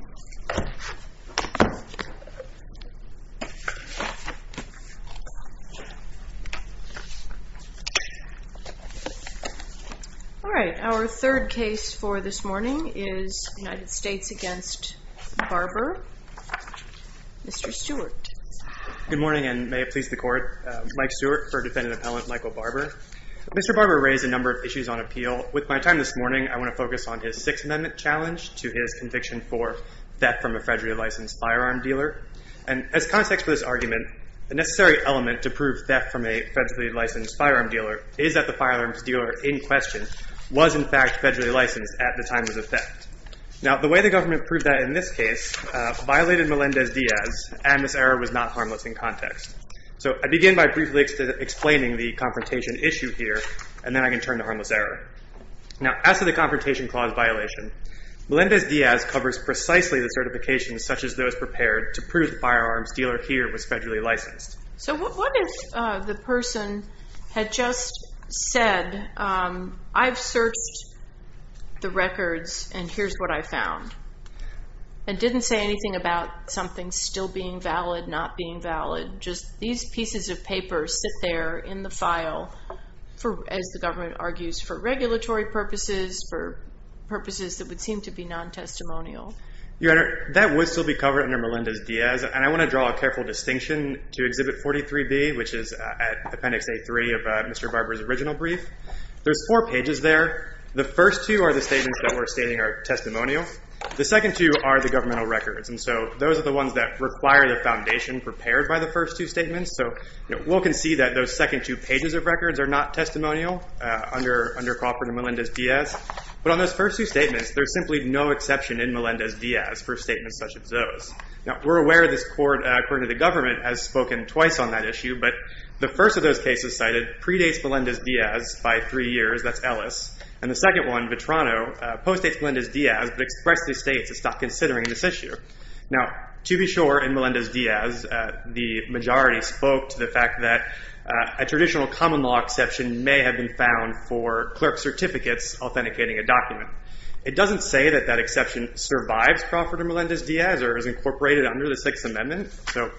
All right, our third case for this morning is United States v. Barber. Mr. Stewart. Good morning, and may it please the Court. Mike Stewart for Defendant Appellant Michael Barber. Mr. Barber raised a number of issues on appeal. With my time this morning, I want to focus on his Sixth Amendment challenge to his conviction for theft from a federally licensed firearm dealer. And as context for this argument, the necessary element to prove theft from a federally licensed firearm dealer is that the firearms dealer in question was, in fact, federally licensed at the time of the theft. Now, the way the government proved that in this case violated Melendez-Diaz, and this error was not harmless in context. So I begin by briefly explaining the confrontation issue here, and then I can turn to harmless error. Now, as to the confrontation clause violation, Melendez-Diaz covers precisely the certifications such as those prepared to prove the firearms dealer here was federally licensed. So what if the person had just said, I've searched the records, and here's what I found, and didn't say anything about something still being valid, not being valid, just these pieces of paper sit there in the file, as the government argues, for regulatory purposes, for purposes that would seem to be non-testimonial? Your Honor, that would still be covered under Melendez-Diaz, and I want to draw a careful distinction to Exhibit 43B, which is at Appendix A3 of Mr. Barber's original brief. There's four pages there. The first two are the statements that we're stating are testimonial. The second two are the governmental records. And so those are the ones that require the foundation prepared by the first two statements. So we'll concede that those second two pages of records are not testimonial under Crawford and Melendez-Diaz. But on those first two statements, there's simply no exception in Melendez-Diaz for statements such as those. Now, we're aware this court, according to the government, has spoken twice on that issue, but the first of those cases cited predates Melendez-Diaz by three years. That's Ellis. And the second one, Vetrano, postdates Melendez-Diaz, but expressedly states it's not considering this issue. Now, to be sure, in Melendez-Diaz, the majority spoke to the fact that a traditional common law exception may have been found for clerk certificates authenticating a document. It doesn't say that that exception survives Crawford and Melendez-Diaz or is incorporated under the Sixth Amendment. So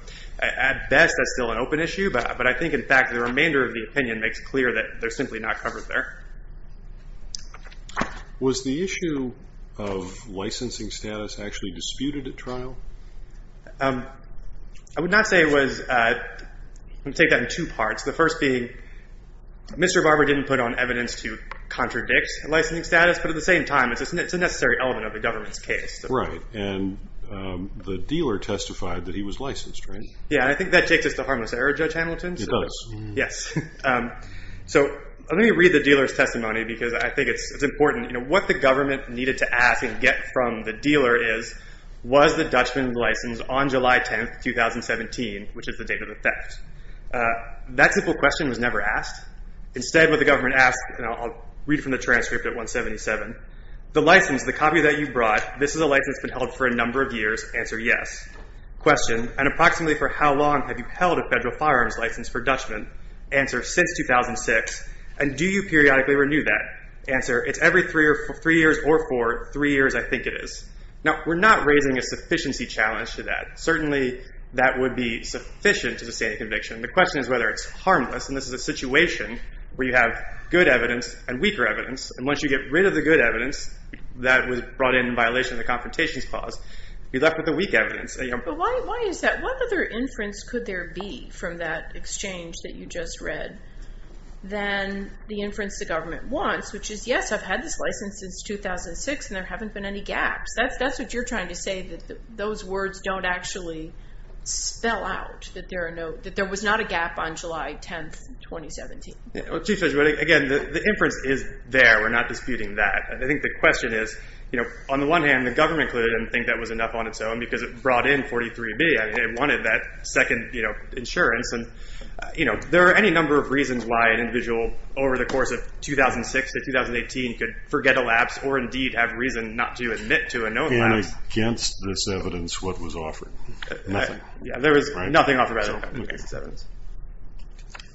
at best, that's still an open issue. But I think, in fact, the remainder of the opinion makes clear that they're simply not covered there. Was the issue of licensing status actually disputed at trial? I would not say it was. I'm going to take that in two parts. The first being Mr. Barber didn't put on evidence to contradict licensing status, but at the same time, it's a necessary element of the government's case. Right. And the dealer testified that he was licensed, right? Yeah. I think that takes us to harmless error, Judge Hamilton. It does. Yes. So let me read the dealer's testimony because I think it's important. What the government needed to ask and get from the dealer is, was the Dutchman's license on July 10, 2017, which is the date of the theft? That simple question was never asked. Instead, what the government asked, and I'll read from the transcript at 177, the license, the copy that you brought, this is a license that's been held for a number of years, answer yes. Question, and approximately for how long have you held a federal firearms license for Dutchman? Answer, since 2006. And do you periodically renew that? Answer, it's every three years or four. Three years, I think it is. Now, we're not raising a sufficiency challenge to that. Certainly, that would be sufficient to sustain a conviction. The question is whether it's harmless. And this is a situation where you have good evidence and weaker evidence. And once you get rid of the good evidence that was brought in in violation of the Confrontations Clause, you're left with the weak evidence. But why is that? What other inference could there be from that exchange that you just read than the inference the government wants, which is, yes, I've had this license since 2006, and there haven't been any gaps. That's what you're trying to say, that those words don't actually spell out, that there was not a gap on July 10, 2017. Chief Judge, again, the inference is there. We're not disputing that. I think the question is, on the one hand, the government didn't think that was enough on its own because it brought in 43B and it wanted that second insurance. And there are any number of reasons why an individual over the course of 2006 to 2018 could forget a lapse or indeed have reason not to admit to a note lapse. And against this evidence, what was offered? Nothing. There was nothing offered against this evidence.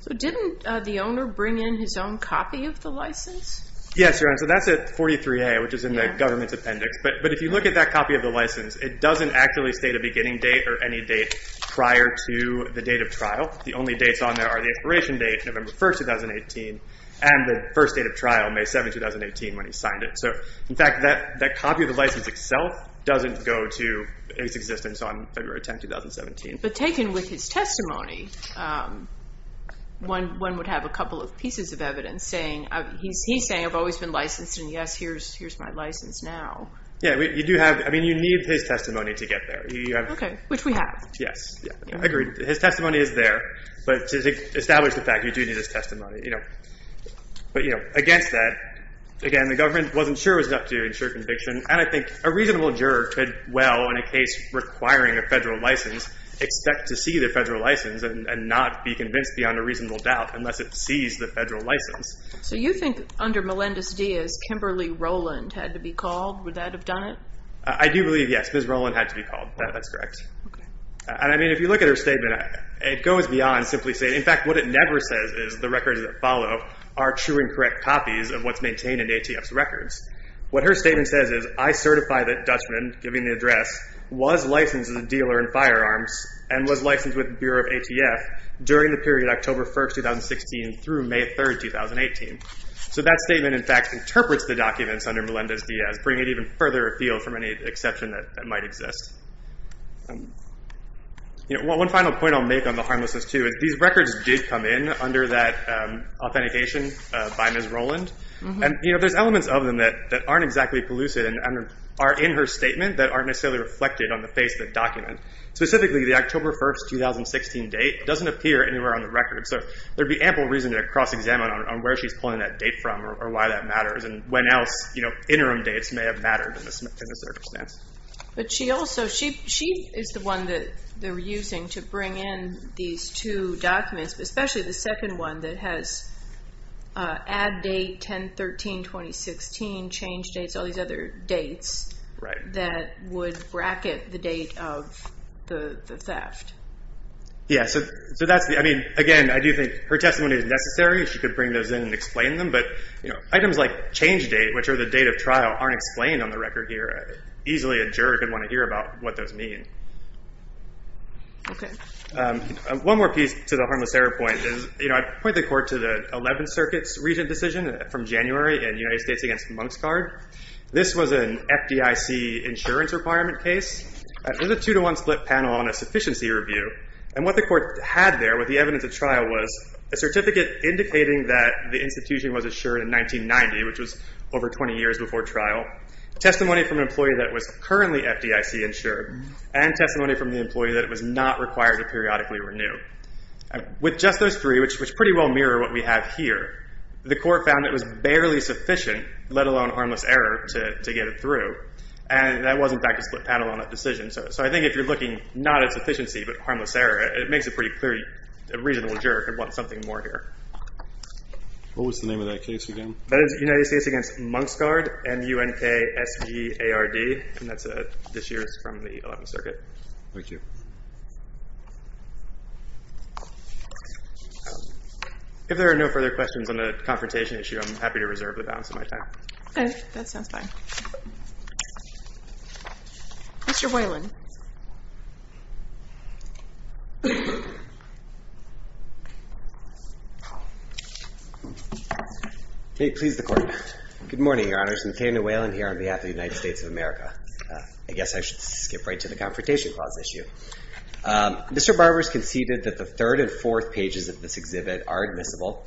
So didn't the owner bring in his own copy of the license? Yes, Your Honor. So that's at 43A, which is in the government's appendix. But if you look at that copy of the license, it doesn't actually state a beginning date or any date prior to the date of trial. The only dates on there are the expiration date, November 1, 2018, and the first date of trial, May 7, 2018, when he signed it. So, in fact, that copy of the license itself doesn't go to his existence on February 10, 2017. But taken with his testimony, one would have a couple of pieces of evidence saying he's saying I've always been licensed and, yes, here's my license now. Yeah, you do have, I mean, you need his testimony to get there. Okay, which we have. Yes, I agree. His testimony is there. But to establish the fact, you do need his testimony. But, you know, against that, again, the government wasn't sure it was up to ensure conviction. And I think a reasonable juror could well, in a case requiring a federal license, expect to see the federal license and not be convinced beyond a reasonable doubt unless it sees the federal license. So you think under Melendez-Diaz, Kimberly Rowland had to be called? Would that have done it? I do believe, yes, Ms. Rowland had to be called. That's correct. Okay. And, I mean, if you look at her statement, it goes beyond simply saying, in fact, what it never says is the records that follow are true and correct copies of what's maintained in ATF's records. What her statement says is I certify that Dutchman, giving the address, was licensed as a dealer in firearms and was licensed with the Bureau of ATF during the period October 1, 2016, through May 3, 2018. So that statement, in fact, interprets the documents under Melendez-Diaz, bringing it even further afield from any exception that might exist. One final point I'll make on the harmlessness, too, is these records did come in under that authentication by Ms. Rowland. And, you know, there's elements of them that aren't exactly pellucid and are in her statement that aren't necessarily reflected on the face of the document. Specifically, the October 1, 2016 date doesn't appear anywhere on the record. So there'd be ample reason to cross-examine on where she's pulling that date from or why that matters and when else, you know, interim dates may have mattered in this circumstance. But she also, she is the one that they're using to bring in these two documents, especially the second one that has add date, 10-13-2016, change dates, all these other dates that would bracket the date of the theft. Yeah, so that's the, I mean, again, I do think her testimony is necessary. She could bring those in and explain them. But, you know, items like change date, which are the date of trial, aren't explained on the record here. Easily a juror could want to hear about what those mean. Okay. One more piece to the harmless error point is, you know, I point the court to the 11th Circuit's recent decision from January in United States Against Monks Card. This was an FDIC insurance requirement case. It was a two-to-one split panel on a sufficiency review. And what the court had there, what the evidence of trial was, a certificate indicating that the institution was assured in 1990, which was over 20 years before trial, testimony from an employee that was currently FDIC insured, and testimony from the employee that it was not required to periodically renew. With just those three, which pretty well mirror what we have here, the court found it was barely sufficient, let alone harmless error, to get it through. And that was, in fact, a split panel on that decision. So I think if you're looking not at sufficiency but harmless error, it makes it pretty clear a reasonable juror could want something more here. What was the name of that case again? That is United States Against Monks Card, M-U-N-K-S-G-A-R-D. And that's this year's from the 11th Circuit. Thank you. If there are no further questions on the confrontation issue, I'm happy to reserve the balance of my time. Okay. That sounds fine. Mr. Whalen. May it please the Court. Good morning, Your Honors. McCain and Whalen here on behalf of the United States of America. I guess I should skip right to the confrontation clause issue. Mr. Barber has conceded that the third and fourth pages of this exhibit are admissible.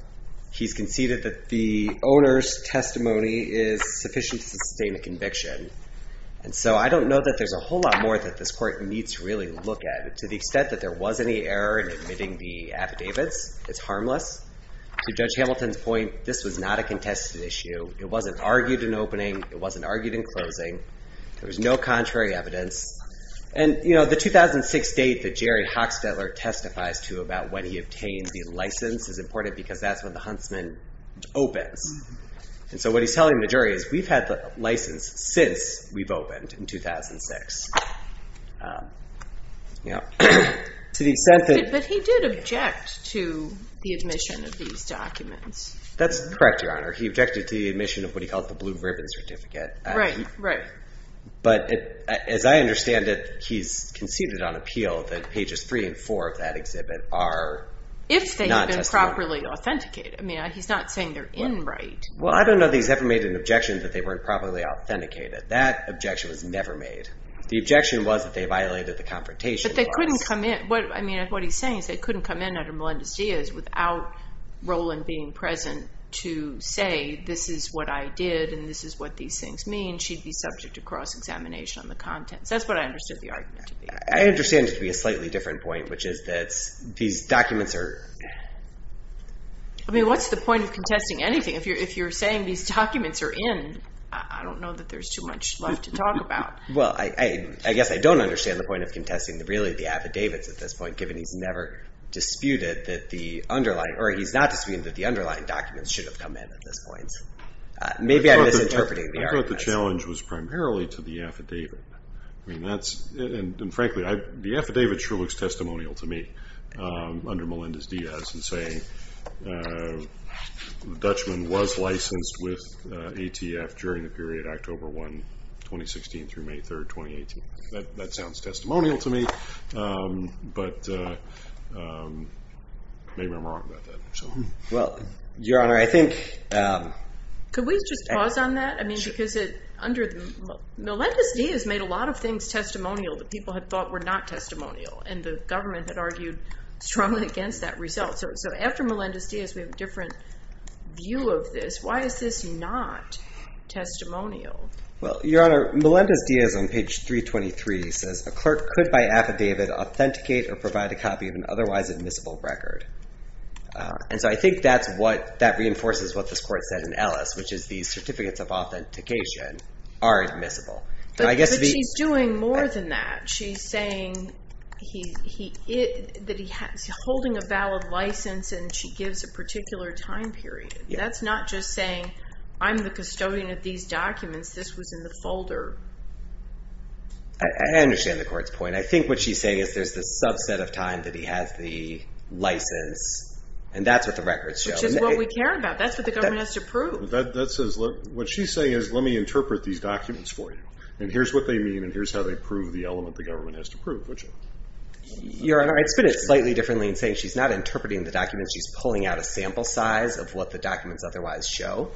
He's conceded that the owner's testimony is sufficient to sustain a conviction. And so I don't know that there's a whole lot more that this Court needs to really look at. To the extent that there was any error in admitting the affidavits, it's harmless. To Judge Hamilton's point, this was not a contested issue. It wasn't argued in opening. It wasn't argued in closing. There was no contrary evidence. And, you know, the 2006 date that Jerry Hochstetler testifies to about when he obtained the license is important because that's when the Huntsman opens. And so what he's telling the jury is, we've had the license since we've opened in 2006. But he did object to the admission of these documents. That's correct, Your Honor. He objected to the admission of what he called the blue ribbon certificate. Right, right. But as I understand it, he's conceded on appeal that pages three and four of that exhibit are non-testimony. If they've been properly authenticated. I mean, he's not saying they're in right. Well, I don't know that he's ever made an objection that they weren't properly authenticated. That objection was never made. The objection was that they violated the confrontation. But they couldn't come in. I mean, what he's saying is they couldn't come in under Melendez-Diaz without Rowland being present to say, this is what I did and this is what these things mean. She'd be subject to cross-examination on the contents. That's what I understood the argument to be. I understand it to be a slightly different point, which is that these documents are. I mean, what's the point of contesting anything? If you're saying these documents are in, I don't know that there's too much left to talk about. Well, I guess I don't understand the point of contesting really the affidavits at this point, given he's never disputed that the underlying, or he's not disputed that the underlying documents should have come in at this point. Maybe I'm misinterpreting the argument. I thought the challenge was primarily to the affidavit. I mean, that's, and frankly, the affidavit sure looks testimonial to me under Melendez-Diaz in saying the Dutchman was licensed with ATF during the period October 1, 2016 through May 3, 2018. That sounds testimonial to me. But maybe I'm wrong about that. Well, Your Honor, I think. Could we just pause on that? I mean, because under, Melendez-Diaz made a lot of things testimonial that people had thought were not testimonial, and the government had argued strongly against that result. So after Melendez-Diaz, we have a different view of this. Why is this not testimonial? Well, Your Honor, Melendez-Diaz on page 323 says, a clerk could by affidavit authenticate or provide a copy of an otherwise admissible record. And so I think that's what, that reinforces what this court said in Ellis, which is the certificates of authentication are admissible. But she's doing more than that. She's saying that he's holding a valid license, and she gives a particular time period. That's not just saying, I'm the custodian of these documents. This was in the folder. I understand the court's point. And I think what she's saying is there's this subset of time that he has the license. And that's what the records show. Which is what we care about. That's what the government has to prove. That says, what she's saying is let me interpret these documents for you. And here's what they mean, and here's how they prove the element the government has to prove. Your Honor, I'd spin it slightly differently in saying she's not interpreting the documents. She's pulling out a sample size of what the documents otherwise show.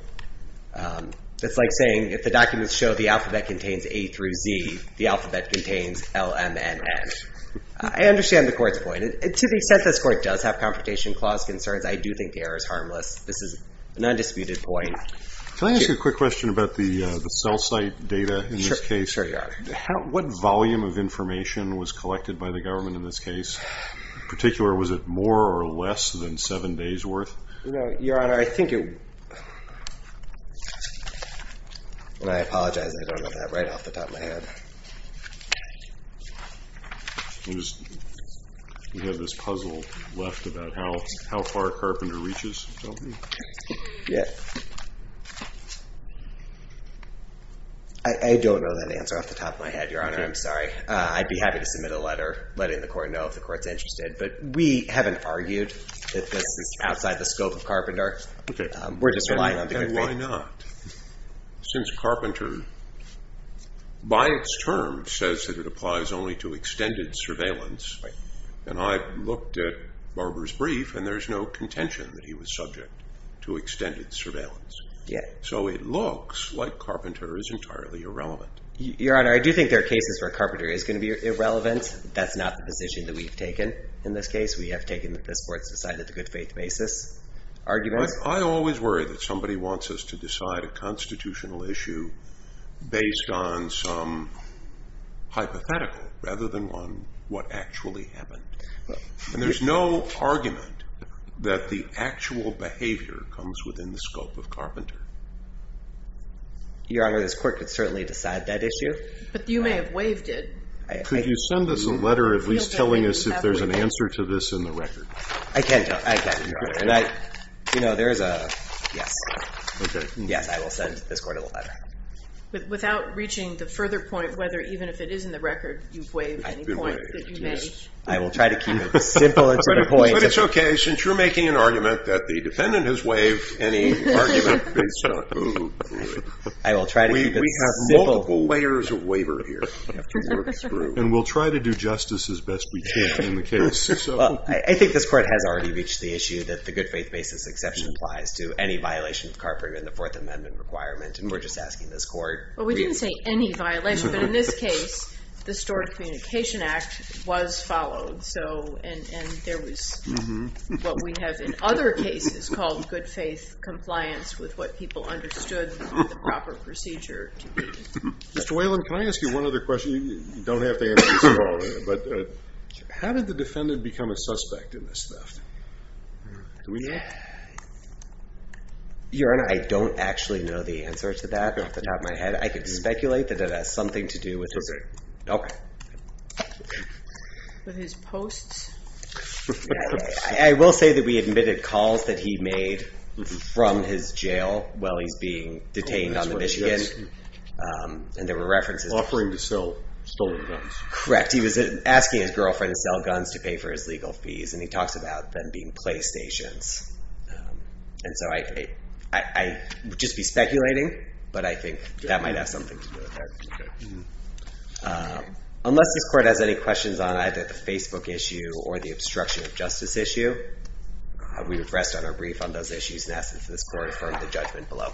It's like saying if the documents show the alphabet contains A through Z, the alphabet contains L, M, N, N. I understand the court's point. To the extent this court does have confrontation clause concerns, I do think the error is harmless. This is an undisputed point. Can I ask you a quick question about the cell site data in this case? Sure, Your Honor. What volume of information was collected by the government in this case? In particular, was it more or less than seven days worth? Your Honor, I think it, and I apologize, I don't know that right off the top of my head. We have this puzzle left about how far Carpenter reaches, don't we? Yeah. I don't know that answer off the top of my head, Your Honor. I'm sorry. I'd be happy to submit a letter letting the court know if the court's interested, but we haven't argued that this is outside the scope of Carpenter. Okay. And why not? Since Carpenter, by its term, says that it applies only to extended surveillance, and I looked at Barber's brief, and there's no contention that he was subject to extended surveillance. Yeah. So it looks like Carpenter is entirely irrelevant. Your Honor, I do think there are cases where Carpenter is going to be irrelevant. That's not the position that we've taken in this case. We have taken this court's decided to good faith basis argument. I always worry that somebody wants us to decide a constitutional issue based on some hypothetical, rather than on what actually happened. And there's no argument that the actual behavior comes within the scope of Carpenter. Your Honor, this court could certainly decide that issue. But you may have waived it. Could you send us a letter at least telling us if there's an answer to this in the record? I can. You know, there is a yes. Okay. Yes, I will send this court a letter. Without reaching the further point whether even if it is in the record, you've waived any points that you may. I will try to keep it simple and to the point. But it's okay since you're making an argument that the defendant has waived any argument based on who. I will try to keep it simple. We have multiple layers of waiver here. And we'll try to do justice as best we can in the case. Well, I think this court has already reached the issue that the good faith basis exception applies to any violation of Carpenter in the Fourth Amendment requirement. And we're just asking this court. Well, we didn't say any violation. But in this case, the Stored Communication Act was followed. And there was what we have in other cases called good faith compliance with what people understood the proper procedure to be. Mr. Whalen, can I ask you one other question? You don't have to answer this at all. But how did the defendant become a suspect in this theft? Do we know? Your Honor, I don't actually know the answer to that off the top of my head. I could speculate that it has something to do with his. Okay. Okay. With his posts? I will say that we admitted calls that he made from his jail while he's being detained on the Michigan. And there were references. Offering to sell stolen guns. Correct. He was asking his girlfriend to sell guns to pay for his legal fees. And he talks about them being Playstations. And so I would just be speculating. But I think that might have something to do with that. Unless this court has any questions on either the Facebook issue or the obstruction of justice issue, we would rest on our brief on those issues and ask that this court affirm the judgment below.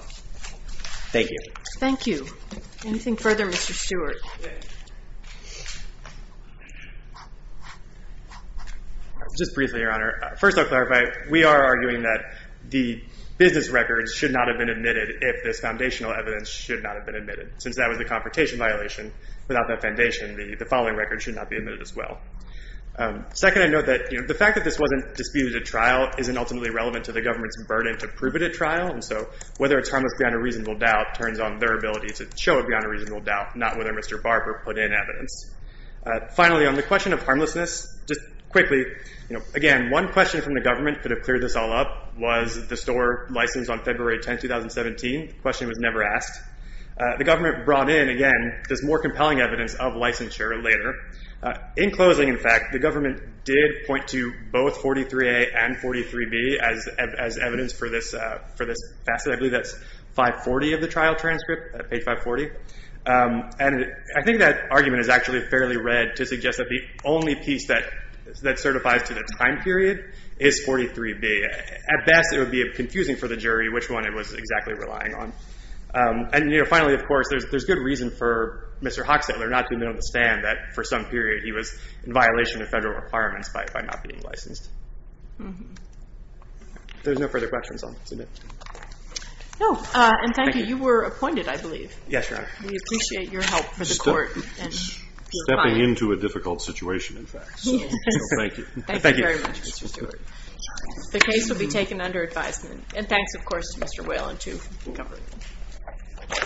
Thank you. Thank you. Anything further, Mr. Stewart? Just briefly, Your Honor. First, I'll clarify. We are arguing that the business records should not have been admitted if this foundational evidence should not have been admitted. Since that was a confrontation violation, without that foundation, the following records should not be admitted as well. Second, I note that the fact that this wasn't disputed at trial isn't ultimately relevant to the government's burden to prove it at trial. And so whether it's harmless beyond a reasonable doubt turns on their ability to show it beyond a reasonable doubt, not whether Mr. Barber put in evidence. Finally, on the question of harmlessness, just quickly, again, one question from the government could have cleared this all up. Was the store licensed on February 10, 2017? The question was never asked. The government brought in, again, this more compelling evidence of licensure later. In closing, in fact, the government did point to both 43A and 43B as evidence for this facet. I believe that's 540 of the trial transcript, page 540. And I think that argument is actually fairly red to suggest that the only piece that certifies to the time period is 43B. At best, it would be confusing for the jury which one it was exactly relying on. And finally, of course, there's good reason for Mr. Hochstetler not to even understand that for some period he was in violation of federal requirements by not being licensed. If there's no further questions, I'll submit. No. And thank you. Thank you. You were appointed, I believe. Yes, Your Honor. We appreciate your help for the court. Stepping into a difficult situation, in fact. So thank you. Thank you very much, Mr. Stewart. The case will be taken under advisement. And thanks, of course, to Mr. Whalen to cover it.